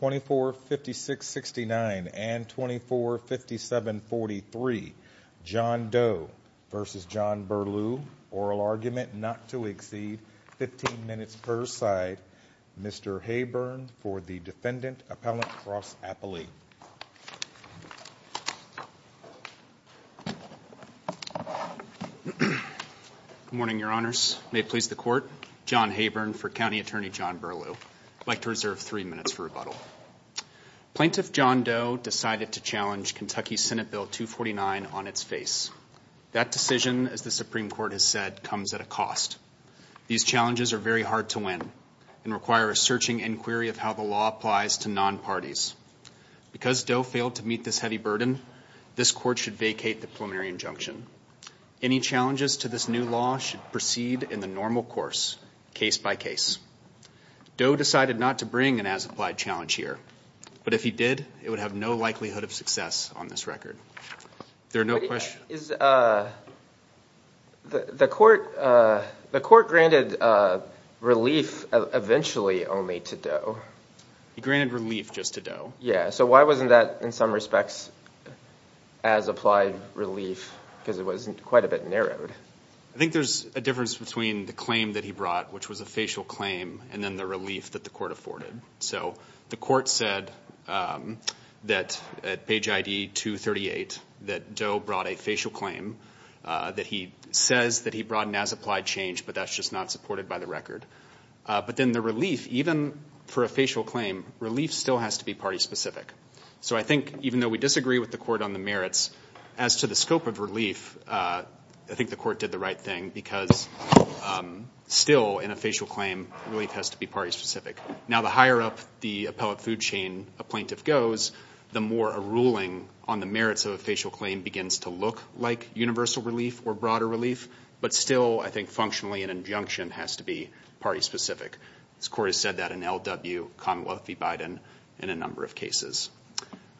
ORAL ARGUMENT NOT TO EXCEED 15 MINUTES PER SIDE MR. HAYBURN FOR THE DEFENDANT APPELLANT CROSS-APPELLATE Morning, Your Honors. May it please the Court? John Hayburn for County Attorney John Burlew. I'd like to reserve three minutes for rebuttal. Plaintiff John Doe decided to challenge Kentucky Senate Bill 249 on its face. That decision, as the Supreme Court has said, comes at a cost. These challenges are very hard to win and require a searching inquiry of how the law applies to non-parties. Because Doe failed to meet this heavy burden, this Court should vacate the preliminary injunction. Any challenges to this new law should proceed in the normal course, case by case. Doe decided not to bring an as-applied challenge here. But if he did, it would have no likelihood of success on this record. The Court granted relief eventually only to Doe. He granted relief just to Doe. Yeah. So why wasn't that, in some respects, as-applied relief? Because it was quite a bit narrowed. I think there's a difference between the claim that he brought, which was a facial claim, and then the relief that the Court afforded. So the Court said that at page ID 238 that Doe brought a facial claim, that he says that he brought an as-applied change, but that's just not supported by the record. But then the relief, even for a facial claim, relief still has to be party-specific. So I think even though we disagree with the Court on the merits, as to the scope of relief, I think the Court did the right thing because still, in a facial claim, relief has to be party-specific. Now, the higher up the appellate food chain a plaintiff goes, the more a ruling on the merits of a facial claim begins to look like universal relief or broader relief. But still, I think functionally, an injunction has to be party-specific. This Court has said that in L.W. Commonwealth v. Biden in a number of cases.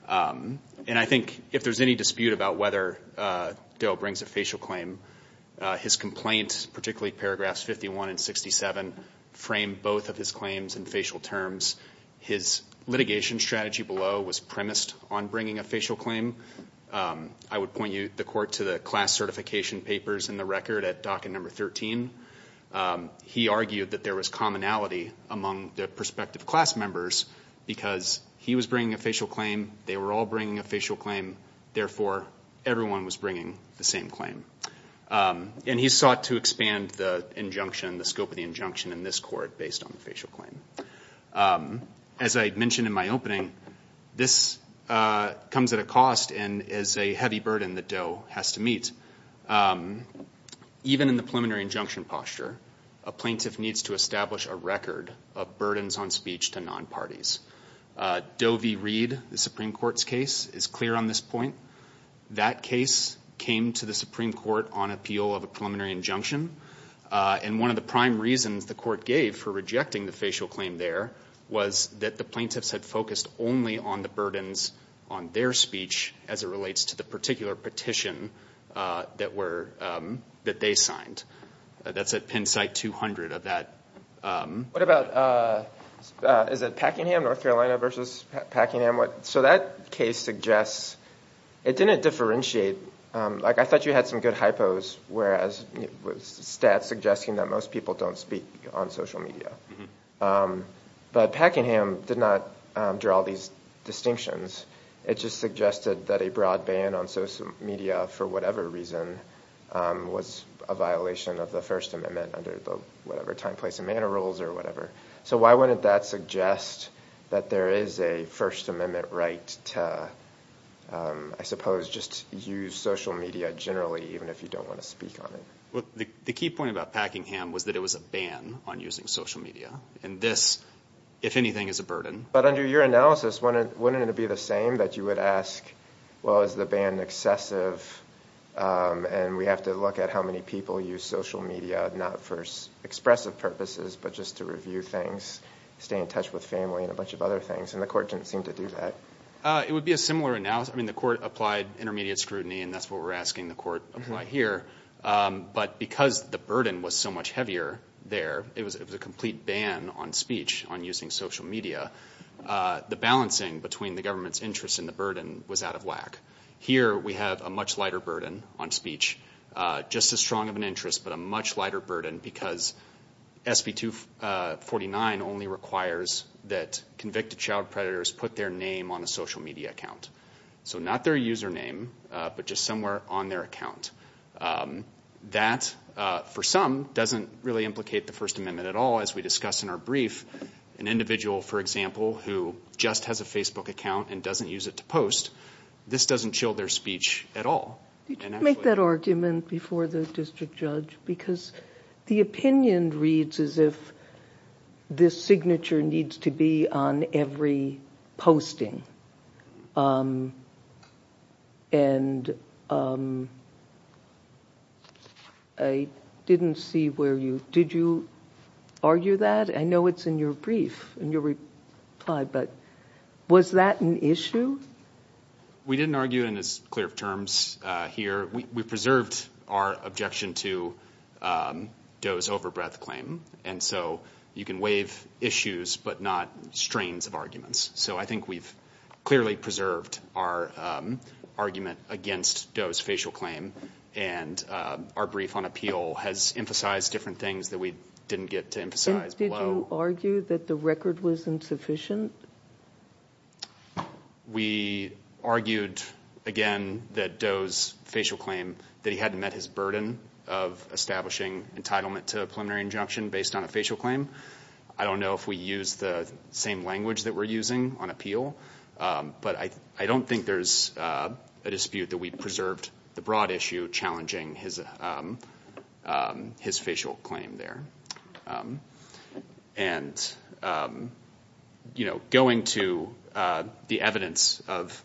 And I think if there's any dispute about whether Doe brings a facial claim, his complaint, particularly paragraphs 51 and 67, frame both of his claims in facial terms. His litigation strategy below was premised on bringing a facial claim. I would point you, the Court, to the class certification papers in the record at docket number 13. He argued that there was commonality among the prospective class members because he was bringing a facial claim, they were all bringing a facial claim, therefore, everyone was bringing the same claim. And he sought to expand the injunction, the scope of the injunction in this Court based on the facial claim. As I mentioned in my opening, this comes at a cost and is a heavy burden that Doe has to meet. Even in the preliminary injunction posture, a plaintiff needs to establish a record of burdens on speech to non-parties. Doe v. Reed, the Supreme Court's case, is clear on this point. That case came to the Supreme Court on appeal of a preliminary injunction. And one of the prime reasons the Court gave for rejecting the facial claim there was that the plaintiffs had focused only on the burdens on their speech as it relates to the particular petition that they signed. That's at pen site 200 of that. What about, is it Packingham, North Carolina v. Packingham? So that case suggests, it didn't differentiate, like I thought you had some good hypos, whereas stats suggesting that most people don't speak on social media. But Packingham did not draw these distinctions. It just suggested that a broad ban on social media, for whatever reason, was a violation of the First Amendment under the whatever time, place and manner rules or whatever. So why wouldn't that suggest that there is a First Amendment right to, I suppose, just use social media generally even if you don't want to speak on it? The key point about Packingham was that it was a ban on using social media. And this, if anything, is a burden. But under your analysis, wouldn't it be the same that you would ask, well, is the ban excessive? And we have to look at how many people use social media, not for expressive purposes, but just to review things, stay in touch with family and a bunch of other things. And the court didn't seem to do that. It would be a similar analysis. I mean, the court applied intermediate scrutiny and that's what we're asking the court apply here. But because the burden was so much heavier there, it was a complete ban on speech on using social media. The balancing between the government's interest in the burden was out of lack. Here we have a much lighter burden on speech, just as strong of an interest, but a much lighter burden because SB 249 only requires that convicted child predators put their name on a social media account. So not their username, but just somewhere on their account. That, for some, doesn't really implicate the First Amendment at all, as we discussed in our brief. An individual, for example, who just has a Facebook account and doesn't use it to post, this doesn't chill their speech at all. Did you make that argument before the district judge? Because the opinion reads as if this signature needs to be on every posting. I didn't see where you... Did you argue that? I know it's in your brief, in your reply, but was that an issue? We didn't argue it, and it's clear of terms here. We preserved our objection to Doe's over-breath claim. And so you can waive issues, but not strains of arguments. So I think we've clearly preserved our argument against Doe's facial claim, and our brief on appeal has emphasized different things that we didn't get to emphasize below. Did you argue that the record was insufficient? We argued, again, that Doe's facial claim, that he hadn't met his burden of establishing entitlement to a preliminary injunction based on a facial claim. I don't know if we used the same language that we're using on appeal, but I don't think there's a dispute that we've preserved the broad issue challenging his facial claim there. And going to the evidence of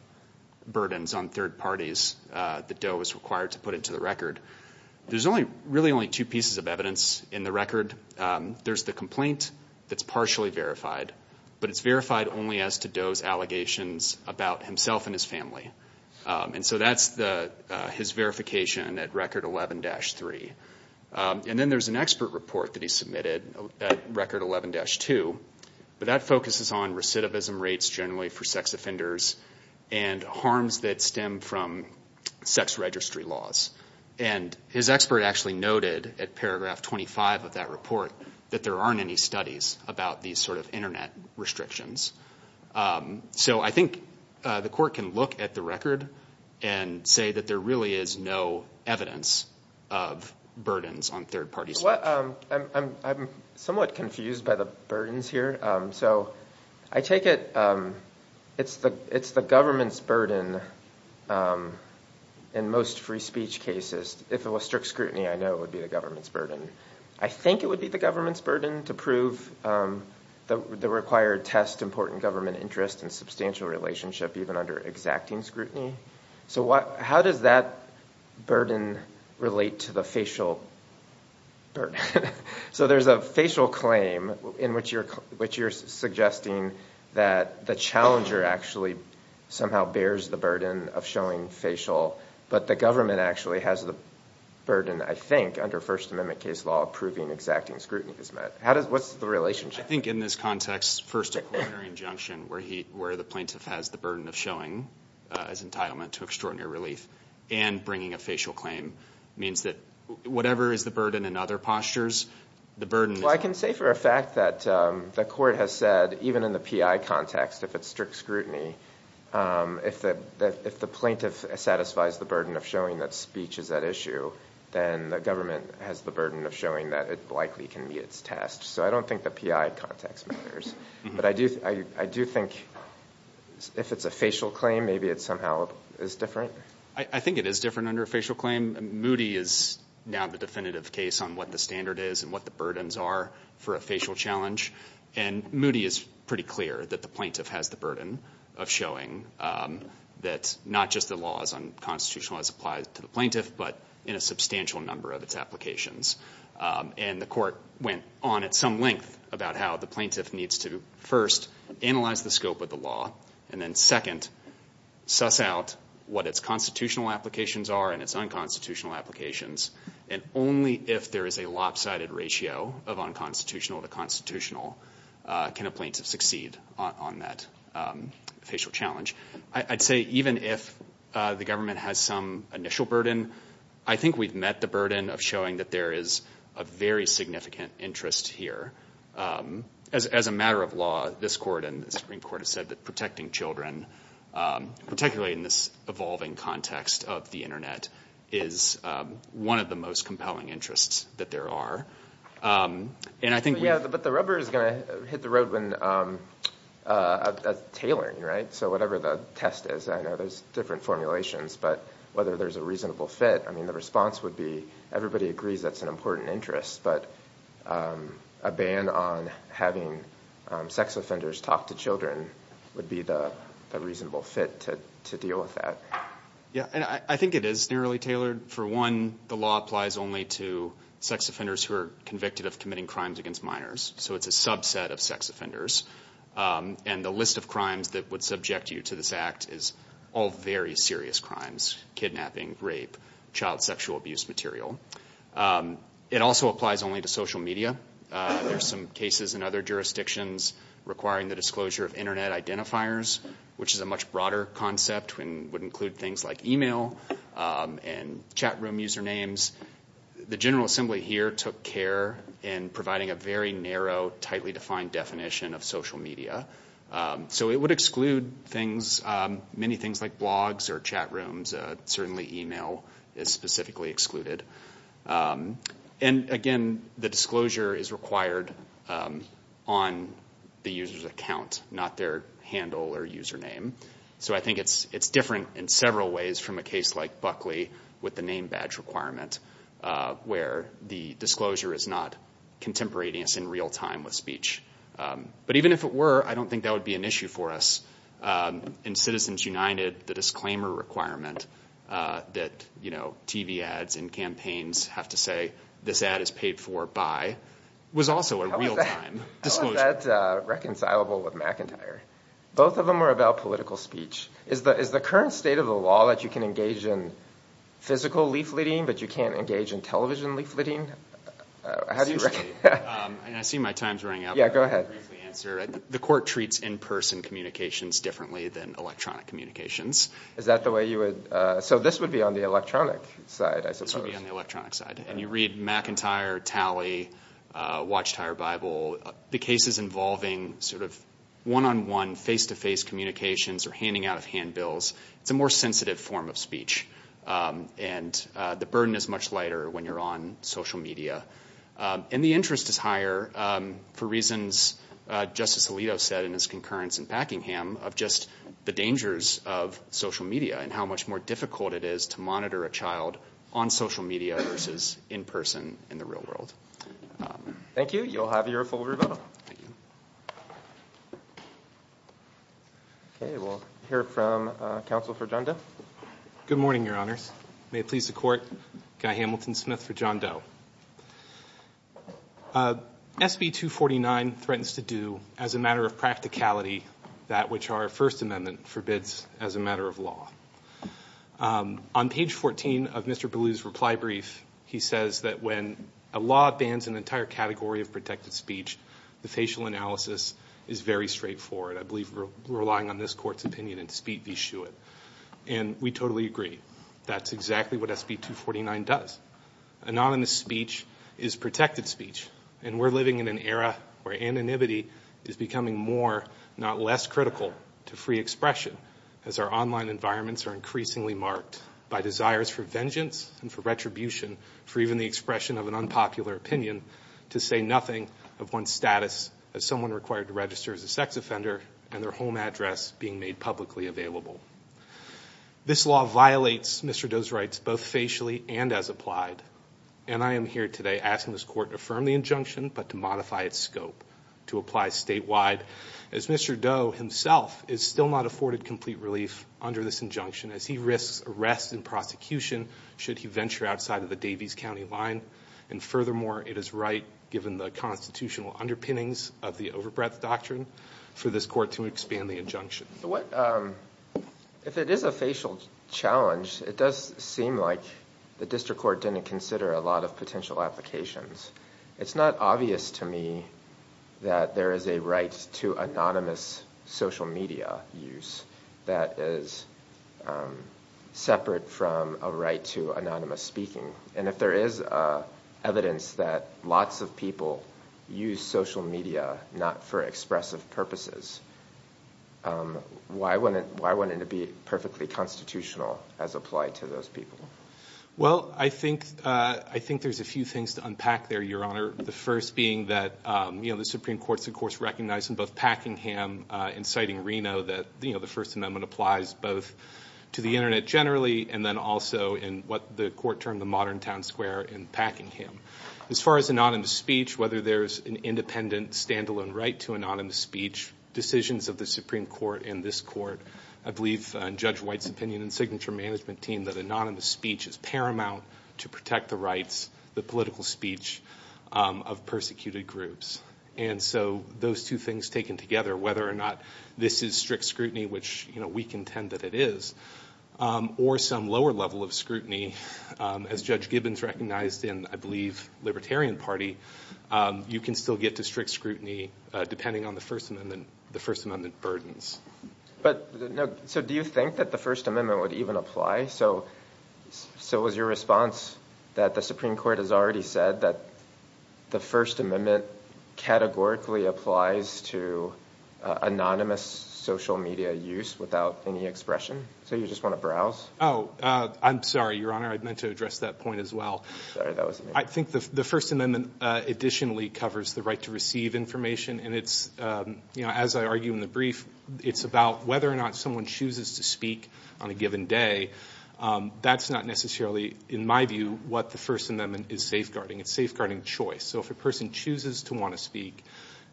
burdens on third parties that Doe was required to put into the record, there's really only two pieces of evidence in the record. There's the complaint that's partially verified, but it's verified only as to Doe's allegations about himself and his family. And so that's his verification at Record 11-3. And then there's an expert report that he submitted at Record 11-2, but that focuses on recidivism rates generally for sex offenders and harms that stem from sex registry laws. And his expert actually noted, at paragraph 25 of that report, that there aren't any studies about these sort of Internet restrictions. So I think the Court can look at the record and say that there really is no evidence of burdens on third-party speech. I'm somewhat confused by the burdens here. So I take it it's the government's burden in most free speech cases. If it was strict scrutiny, I know it would be the government's burden. I think it would be the government's burden to prove the required test, important government interest, and substantial relationship, even under exacting scrutiny. So how does that burden relate to the facial burden? So there's a facial claim in which you're suggesting that the challenger actually somehow bears the burden of showing facial, but the government actually has the burden, I think, under First Amendment case law of proving exacting scrutiny is met. What's the relationship? I think in this context, first a coronary injunction where the plaintiff has the burden of showing his entitlement to extraordinary relief and bringing a facial claim means that whatever is the burden in other postures, the burden is... Well, I can say for a fact that the Court has said, even in the PI context, if it's strict scrutiny, if the plaintiff satisfies the burden of showing that speech is at issue, then the government has the burden of showing that it likely can meet its test. So I don't think the PI context matters. But I do think if it's a facial claim, maybe it somehow is different. I think it is different under a facial claim. Moody is now the definitive case on what the standard is and what the burdens are for a facial challenge. And Moody is pretty clear that the plaintiff has the burden of showing that not just the laws on constitutional rights apply to the plaintiff, but in a substantial number of its applications. And the Court went on at some length about how the plaintiff needs to, first, analyze the scope of the law, and then, second, suss out what its constitutional applications are and its unconstitutional applications. And only if there is a lopsided ratio of unconstitutional to constitutional can a plaintiff succeed on that facial challenge. I'd say even if the government has some initial burden, I think we've met the burden of showing that there is a very significant interest here. As a matter of law, this Court and the Supreme Court have said that protecting children, particularly in this evolving context of the Internet, is one of the most compelling interests that there are. And I think... But the rubber is going to hit the road when tailoring, right? So whatever the test is, I know there's different formulations, but whether there's a reasonable fit, the response would be everybody agrees that's an important interest, but a ban on having sex offenders talk to children would be the reasonable fit to deal with that. I think it is narrowly tailored. For one, the law applies only to sex offenders who are convicted of committing crimes against minors. So it's a subset of sex offenders. And the list of crimes that would subject you to this Act is all very serious crimes, kidnapping, rape, child sexual abuse material. It also applies only to social media. There's some cases in other jurisdictions requiring the disclosure of Internet identifiers, which is a much broader concept and would include things like email and chat room usernames. The General Assembly here took care in providing a very narrow, tightly defined definition of social media. So it would exclude many things like blogs or chat rooms. Certainly email is specifically excluded. And again, the disclosure is required on the user's account, not their handle or username. So I think it's different in several ways from a case like Buckley with the name badge requirement where the disclosure is not contemplating us in real time with speech. But even if it were, I don't think that would be an issue for us. In Citizens United, the disclaimer requirement that TV ads and campaigns have to say, this ad is paid for by, was also a real time disclosure. How is that reconcilable with McIntyre? Both of them are about political speech. Is the current state of the law that you can engage in physical leafleting, but you can't engage in television leafleting? I see my time's running out, but I'll briefly answer. The court treats in-person communications differently than electronic communications. So this would be on the electronic side, I suppose. And you read McIntyre, Talley, Watchtower Bible, the cases involving sort of one-on-one face-to-face communications or handing out of handbills, it's a more sensitive form of speech. And the burden is much lighter when you're on social media. And the interest is higher for reasons Justice Alito said in his concurrence in Packingham, of just the dangers of social media and how much more difficult it is to monitor a child on social media versus in person in the real world. Thank you. You'll have your full rebuttal. OK, we'll hear from counsel for John Doe. Good morning, Your Honors. May it please the court, Guy Hamilton Smith for John Doe. SB 249 threatens to do, as a matter of practicality, that which our First Amendment forbids as a matter of law. On page 14 of Mr. Belew's reply brief, he says that when a law bans an entire category of protected speech, the facial analysis is very straightforward. I believe we're relying on this Court's opinion in Speed v. Shewitt. And we totally agree. That's exactly what SB 249 does. Anonymous speech is protected speech. And we're living in an era where anonymity is becoming more, not less, critical to free expression, as our online environments are increasingly marked by desires for vengeance and for retribution, for even the expression of an unpopular opinion to say nothing of one's status as someone required to register as a sex offender and their home address being made publicly available. This law violates Mr. Doe's rights both facially and as applied. And I am here today asking this Court to affirm the injunction, but to modify its scope to apply statewide, as Mr. Doe himself is still not afforded complete relief under this injunction, as he risks arrest and prosecution should he venture outside of the Davies County line. And furthermore, it is right, given the constitutional underpinnings of the overbreadth doctrine, for this Court to expand the injunction. If it is a facial challenge, it does seem like the District Court didn't consider a lot of potential applications. It's not obvious to me that there is a right to anonymous social media use that is separate from a right to anonymous speaking. And if there is evidence that lots of people use social media not for expressive purposes, why wouldn't it be perfectly constitutional as applied to those people? Well, I think there's a few things to unpack there, Your Honor. The first being that the Supreme Court's, of course, recognized in both Packingham and citing Reno that the First Amendment applies both to the Internet generally, and then also in what the Court termed the modern town square in Packingham. As far as anonymous speech, whether there's an independent, stand-alone right to anonymous speech, decisions of the Supreme Court and this Court, I believe in Judge White's opinion and signature management team, that anonymous speech is paramount to protect the rights, the political speech of persecuted groups. And so those two things taken together, whether or not this is strict scrutiny, which we contend that it is, or some lower level of scrutiny, as Judge Gibbons recognized in, I believe, Libertarian Party, you can still get to strict scrutiny depending on the First Amendment burdens. So do you think that the First Amendment would even apply? So was your response that the Supreme Court has already said that the First Amendment categorically applies to anonymous social media use without any expression? So you just want to browse? Oh, I'm sorry, Your Honor. I meant to address that point as well. I think the First Amendment additionally covers the right to receive information, and it's, as I argue in the brief, it's about whether or not someone chooses to speak on a given day. That's not necessarily, in my view, what the First Amendment is safeguarding. It's safeguarding choice. So if a person chooses to want to speak,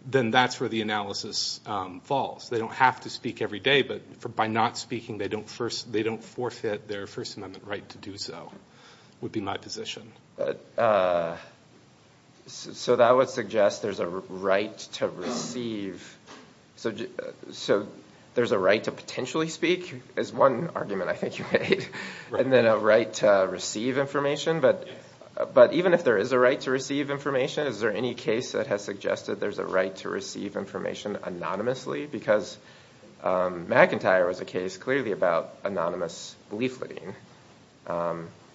then that's where the analysis falls. They don't have to speak every day, but by not speaking, they don't forfeit their First Amendment right to do so, would be my position. So that would suggest there's a right to receive... So there's a right to potentially speak is one argument I think you made, and then a right to receive information. But even if there is a right to receive information, is there any case that has suggested there's a right to receive information anonymously? Because McIntyre was a case clearly about anonymous leafleting.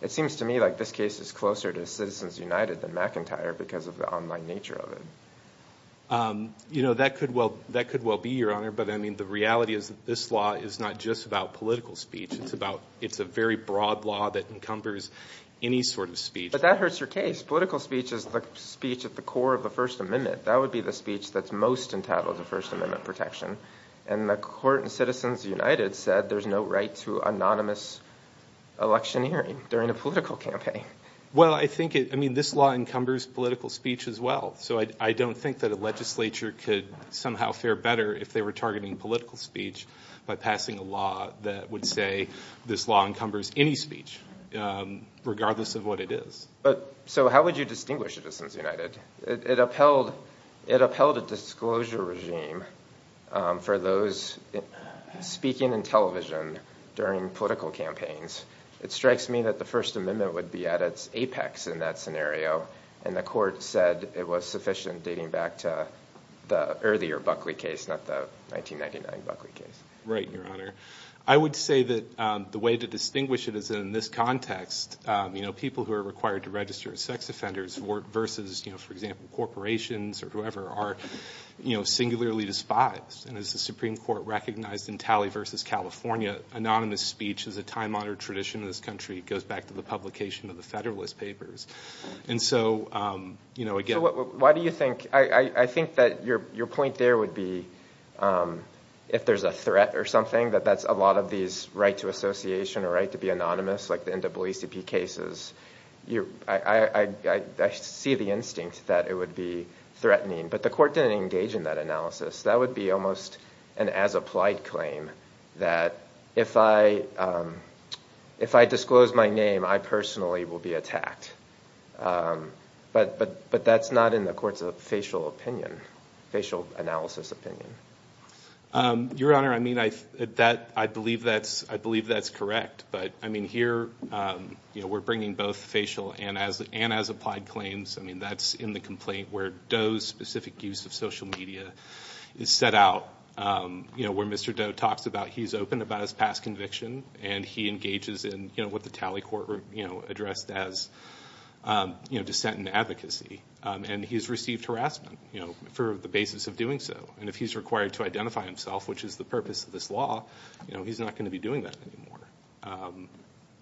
It seems to me like this case is closer to Citizens United than McIntyre because of the online nature of it. That could well be, Your Honor, but the reality is that this law is not just about political speech. It's a very broad law that encumbers any sort of speech. But that hurts your case. Political speech is the speech at the core of the First Amendment. That would be the speech that's most entitled to First Amendment protection. And the court in Citizens United said there's no right to anonymous electioneering during a political campaign. Well, I think it... I mean, this law encumbers political speech as well. So I don't think that a legislature could somehow fare better if they were targeting political speech by passing a law that would say this law encumbers any speech, regardless of what it is. So how would you distinguish Citizens United? It upheld a disclosure regime for those speaking in television during political campaigns. It strikes me that the First Amendment would be at its apex in that scenario. And the court said it was sufficient, dating back to the earlier Buckley case, not the 1999 Buckley case. Right, Your Honor. I would say that the way to distinguish it is in this context. People who are required to register as sex offenders versus, for example, corporations or whoever, are singularly despised. And as the Supreme Court recognized in Talley v. California, anonymous speech is a time-honored tradition in this country. It goes back to the publication of the Federalist Papers. I think that your point there would be, if there's a threat or something, that that's a lot of these right to association or right to be anonymous, like the NAACP cases. I see the instinct that it would be threatening. But the court didn't engage in that analysis. That would be almost an as-applied claim, that if I disclose my name, I personally will be attacked. But that's not in the court's facial opinion, facial analysis opinion. Your Honor, I believe that's correct. But here, we're bringing both facial and as-applied claims. That's in the complaint where Doe's specific use of social media is set out, where Mr. Doe talks about he's open about his past conviction, and he engages in what the Talley courtroom addressed as dissent and advocacy. And he's received harassment for the basis of doing so. And if he's required to identify himself, which is the purpose of this law, he's not going to be doing that anymore.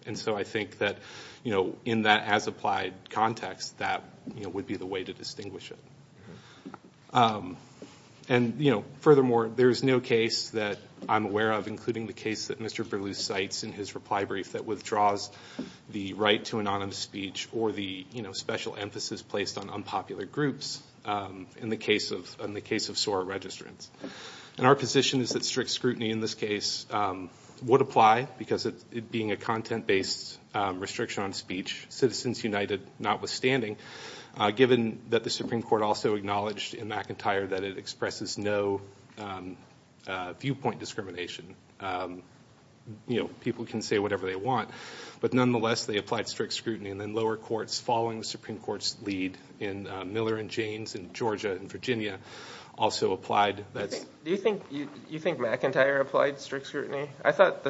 And so I think that in that as-applied context, that would be the way to distinguish it. And furthermore, there's no case that I'm aware of, including the case that Mr. Berlusz cites in his reply brief that withdraws the right to anonymous speech, or the special emphasis placed on unpopular groups in the case of SOAR registrants. And our position is that strict scrutiny in this case would apply, because it being a content-based restriction on speech, Citizens United notwithstanding, given that the Supreme Court also acknowledged in McIntyre that it expresses no viewpoint discrimination. People can say whatever they want, but nonetheless, they applied strict scrutiny. And then lower courts, following the Supreme Court's lead in Miller and Jaynes in Georgia and Virginia, also applied. Do you think McIntyre applied strict scrutiny? I'll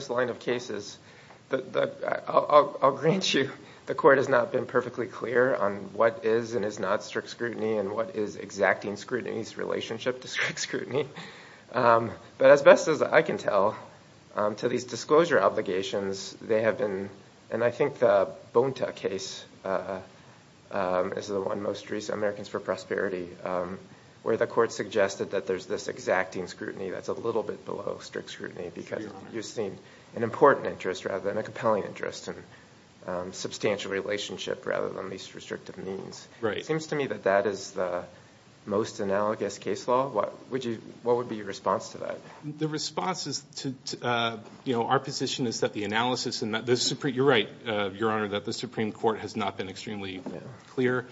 grant you the Court has not been perfectly clear on what is and is not strict scrutiny, and what is exacting scrutiny's relationship to strict scrutiny. But as best as I can tell, to these disclosure obligations, they have been, and I think the Bonta case is the one most recent, Americans for Prosperity, where the Court suggested that there's this exacting scrutiny that's a little bit below strict scrutiny, because you've seen an important interest rather than a compelling interest, and substantial relationship rather than least restrictive means. It seems to me that that is the most analogous case law. What would be your response to that? You're right, Your Honor, that the Supreme Court has not been extremely clear,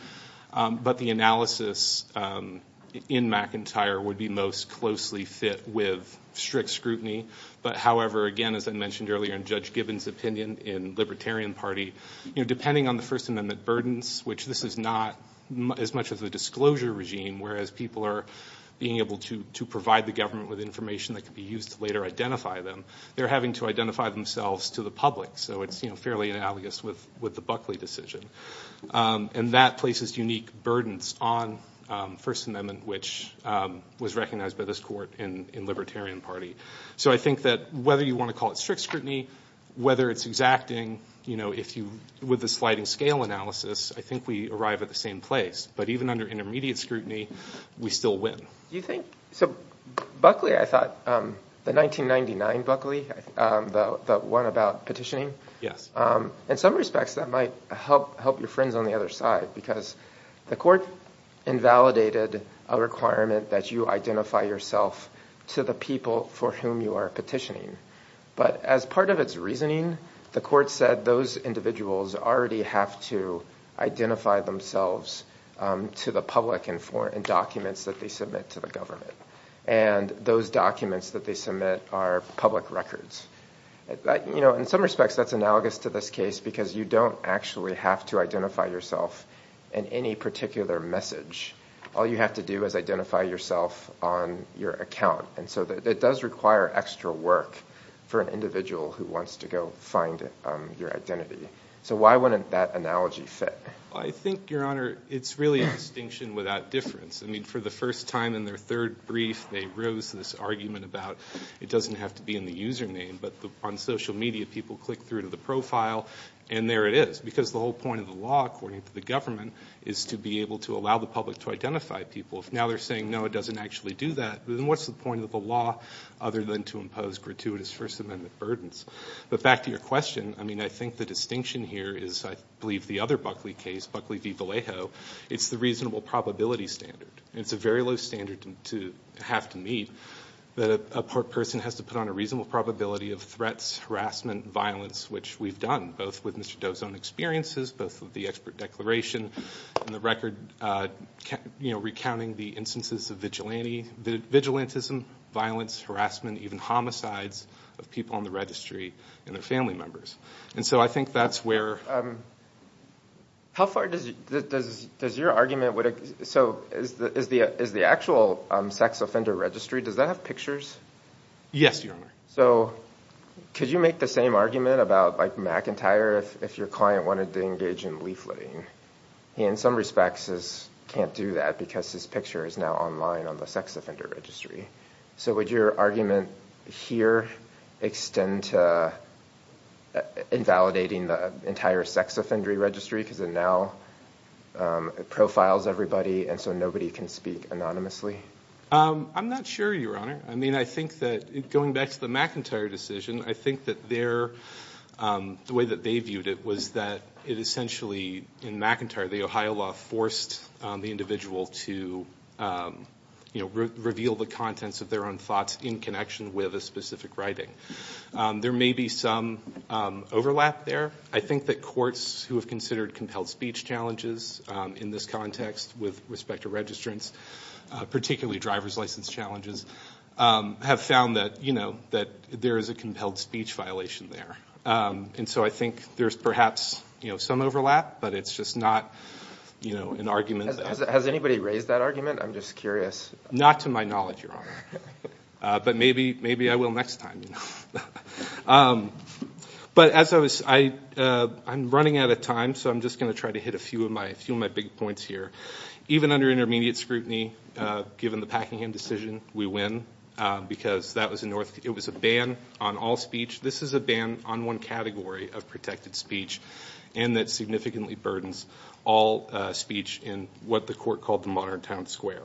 but the analysis in McIntyre would be most closely fit with strict scrutiny. However, again, as I mentioned earlier in Judge Gibbons' opinion in Libertarian Party, depending on the First Amendment burdens, which this is not as much of the disclosure regime, whereas people are being able to provide the government with information that could be used to later identify them, they're having to identify themselves to the public, so it's fairly analogous with the Buckley decision. And that places unique burdens on First Amendment, which was recognized by this Court in Libertarian Party. So I think that whether you want to call it strict scrutiny, whether it's exacting, with the sliding scale analysis, I think we arrive at the same place. But even under intermediate scrutiny, we still win. Buckley, I thought, the 1999 Buckley, the one about petitioning, in some respects that might help your friends on the other side, because the Court invalidated a requirement that you identify yourself to the people for whom you are petitioning. But as part of its reasoning, the Court said those individuals already have to identify themselves to the public in documents that they submit to the government. And those documents that they submit are public records. In some respects, that's analogous to this case, because you don't actually have to identify yourself in any particular message. All you have to do is identify yourself on your account. And so it does require extra work for an individual who wants to go find your identity. So why wouldn't that analogy fit? Well, I think, Your Honor, it's really a distinction without difference. I mean, for the first time in their third brief, they rose to this argument about it doesn't have to be in the username, but on social media people click through to the profile, and there it is. Because the whole point of the law, according to the government, is to be able to allow the public to identify people. If now they're saying, no, it doesn't actually do that, then what's the point of the law other than to impose gratuitous First Amendment burdens? But back to your question, I mean, I think the distinction here is, I believe, the other Buckley case, Buckley v. Vallejo, it's the reasonable probability standard. It's a very low standard to have to meet that a person has to put on a reasonable probability of threats, harassment, violence, which we've done, both with Mr. Dozone's experiences, both with the expert declaration and the record recounting the instances of vigilantism, violence, harassment, even homicides of people on the registry and their family members. And so I think that's where... So is the actual sex offender registry, does that have pictures? Yes, Your Honor. So could you make the same argument about MacIntyre if your client wanted to engage in leafleting? He, in some respects, can't do that because his picture is now online on the sex offender registry. So would your argument here extend to invalidating the entire sex offender registry because it now profiles everybody and so nobody can speak anonymously? I'm not sure, Your Honor. I mean, I think that, going back to the MacIntyre decision, I think that the way that they viewed it was that it essentially, in MacIntyre, the Ohio law forced the individual to, you know, reveal the contents of their own thoughts in connection with a specific writing. There may be some overlap there. I think that courts who have considered compelled speech challenges in this context with respect to registrants, particularly driver's license challenges, have found that there is a compelled speech violation there. And so I think there's perhaps some overlap, but it's just not an argument that... Has anybody raised that argument? I'm just curious. Not to my knowledge, Your Honor, but maybe I will next time, you know. But as I was... I'm running out of time, so I'm just going to try to hit a few of my big points here. Even under intermediate scrutiny, given the Packingham decision, we win, because that was a North... It was a ban on all speech. This is a ban on one category of protected speech, and that significantly burdens all speech in what the court called the modern town square.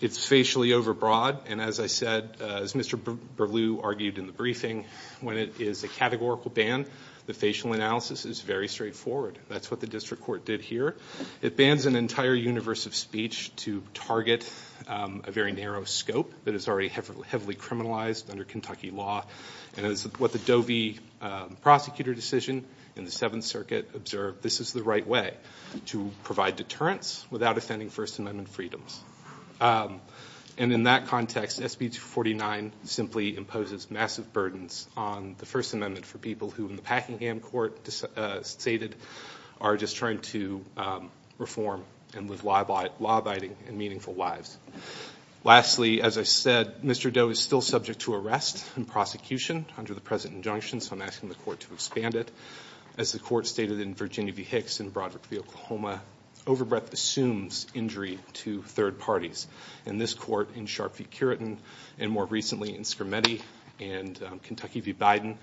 It's facially overbroad, and as I said, as Mr. Berlew argued in the briefing, when it is a categorical ban, the facial analysis is very straightforward. That's what the district court did here. It bans an entire universe of speech to target a very narrow scope that is already heavily criminalized under Kentucky law. And as what the Doe v. Prosecutor decision in the Seventh Circuit observed, this is the right way to provide deterrence without offending First Amendment freedoms. And in that context, SB 249 simply imposes massive burdens on the First Amendment for people who, in the Packingham court stated, are just trying to reform and live law-abiding and meaningful lives. Lastly, as I said, Mr. Doe is still subject to arrest and prosecution under the present injunction, so I'm asking the court to expand it. As the court stated in Virginia v. Hicks and Broderick v. Oklahoma, overbreadth assumes injury to third parties. In this court, in Sharp v. Curitin, and more recently in Scarametti and Kentucky v. Biden,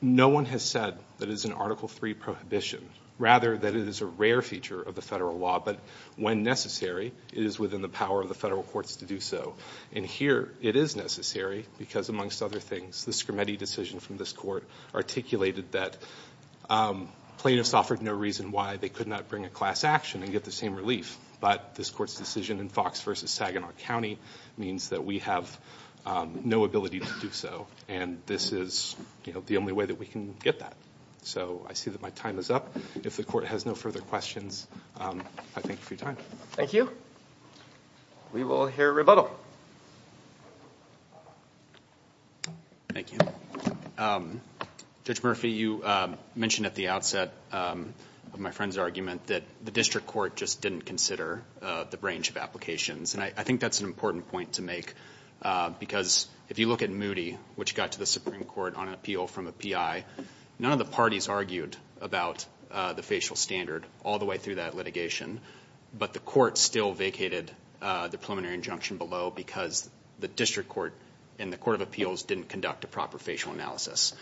no one has said that it is an Article III prohibition, rather that it is a rare feature of the federal law, but when necessary, it is within the power of the federal courts to do so. And here it is necessary because, amongst other things, the Scarametti decision from this court articulated that plaintiffs offered no reason why they could not bring a class action and get the same relief. But this court's decision in Fox v. Saginaw County means that we have no ability to do so, and this is the only way that we can get that. So I see that my time is up. If the court has no further questions, I thank you for your time. Thank you. We will hear rebuttal. Judge Murphy, you mentioned at the outset of my friend's argument that the district court just didn't consider the range of applications, and I think that's an important point to make, because if you look at Moody, which got to the Supreme Court on an appeal from a PI, none of the parties argued about the facial standard all the way through that litigation, but the court still vacated the preliminary injunction below because the district court and the court of appeals didn't conduct a proper facial analysis.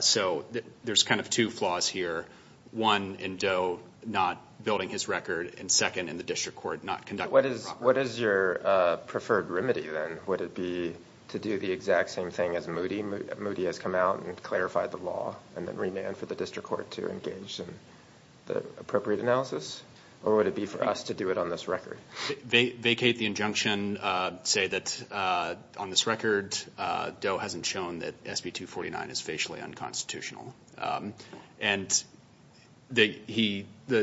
So there's kind of two flaws here, one in Doe not building his record, and second, in the district court not conducting a proper analysis. What is your preferred remedy, then? Would it be to do the exact same thing as Moody? Moody has come out and clarified the law and then remanded for the district court to engage in the appropriate analysis? Or would it be for us to do it on this record? Vacate the injunction, say that on this record, Doe hasn't shown that SB249 is facially unconstitutional. And the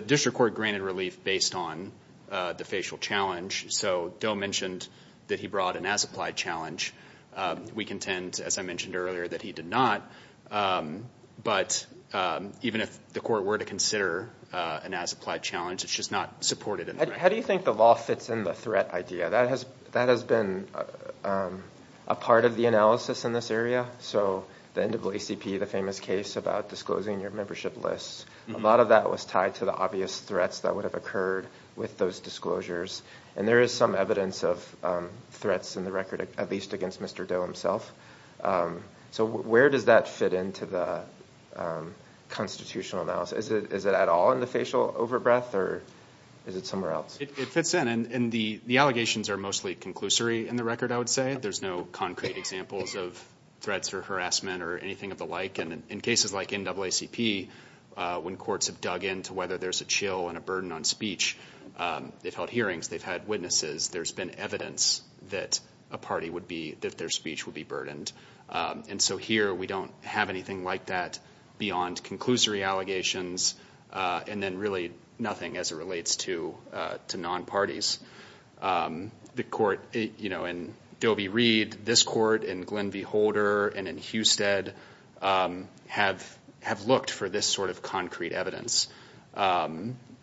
district court granted relief based on the facial challenge, so Doe mentioned that he brought an as-applied challenge. We contend, as I mentioned earlier, that he did not, but even if the court were to consider an as-applied challenge, it's just not supported in the record. How do you think the law fits in the threat idea? That has been a part of the analysis in this area. So the NAACP, the famous case about disclosing your membership lists, a lot of that was tied to the obvious threats that would have occurred with those disclosures. And there is some evidence of threats in the record, at least against Mr. Doe himself. So where does that fit into the constitutional analysis? Is it at all in the facial over-breath, or is it somewhere else? It fits in. And the allegations are mostly conclusory in the record, I would say. There's no concrete examples of threats or harassment or anything of the like. And in cases like NAACP, when courts have dug into whether there's a chill and a burden on speech, they've held hearings, they've had witnesses, there's been evidence that a party would be, that their speech would be burdened. And so here, we don't have anything like that beyond conclusory allegations, and then really nothing as it relates to non-parties. The court, you know, in Doe v. Reed, this court, in Glenn v. Holder, and in Husted, have looked for this sort of concrete evidence.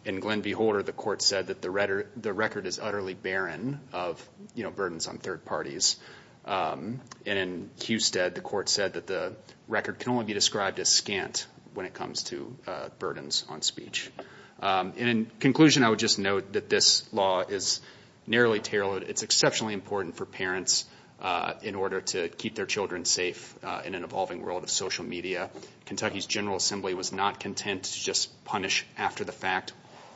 In Glenn v. Holder, the court said that the record is utterly barren of, you know, burdens on third parties. And in Husted, the court said that the record can only be described as scant when it comes to burdens on speech. And in conclusion, I would just note that this law is narrowly tailored. It's exceptionally important for parents in order to keep their children safe in an evolving world of social media. Kentucky's General Assembly was not content to just punish after the fact.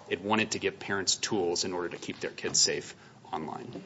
It wanted to give parents tools in order to keep their kids safe online.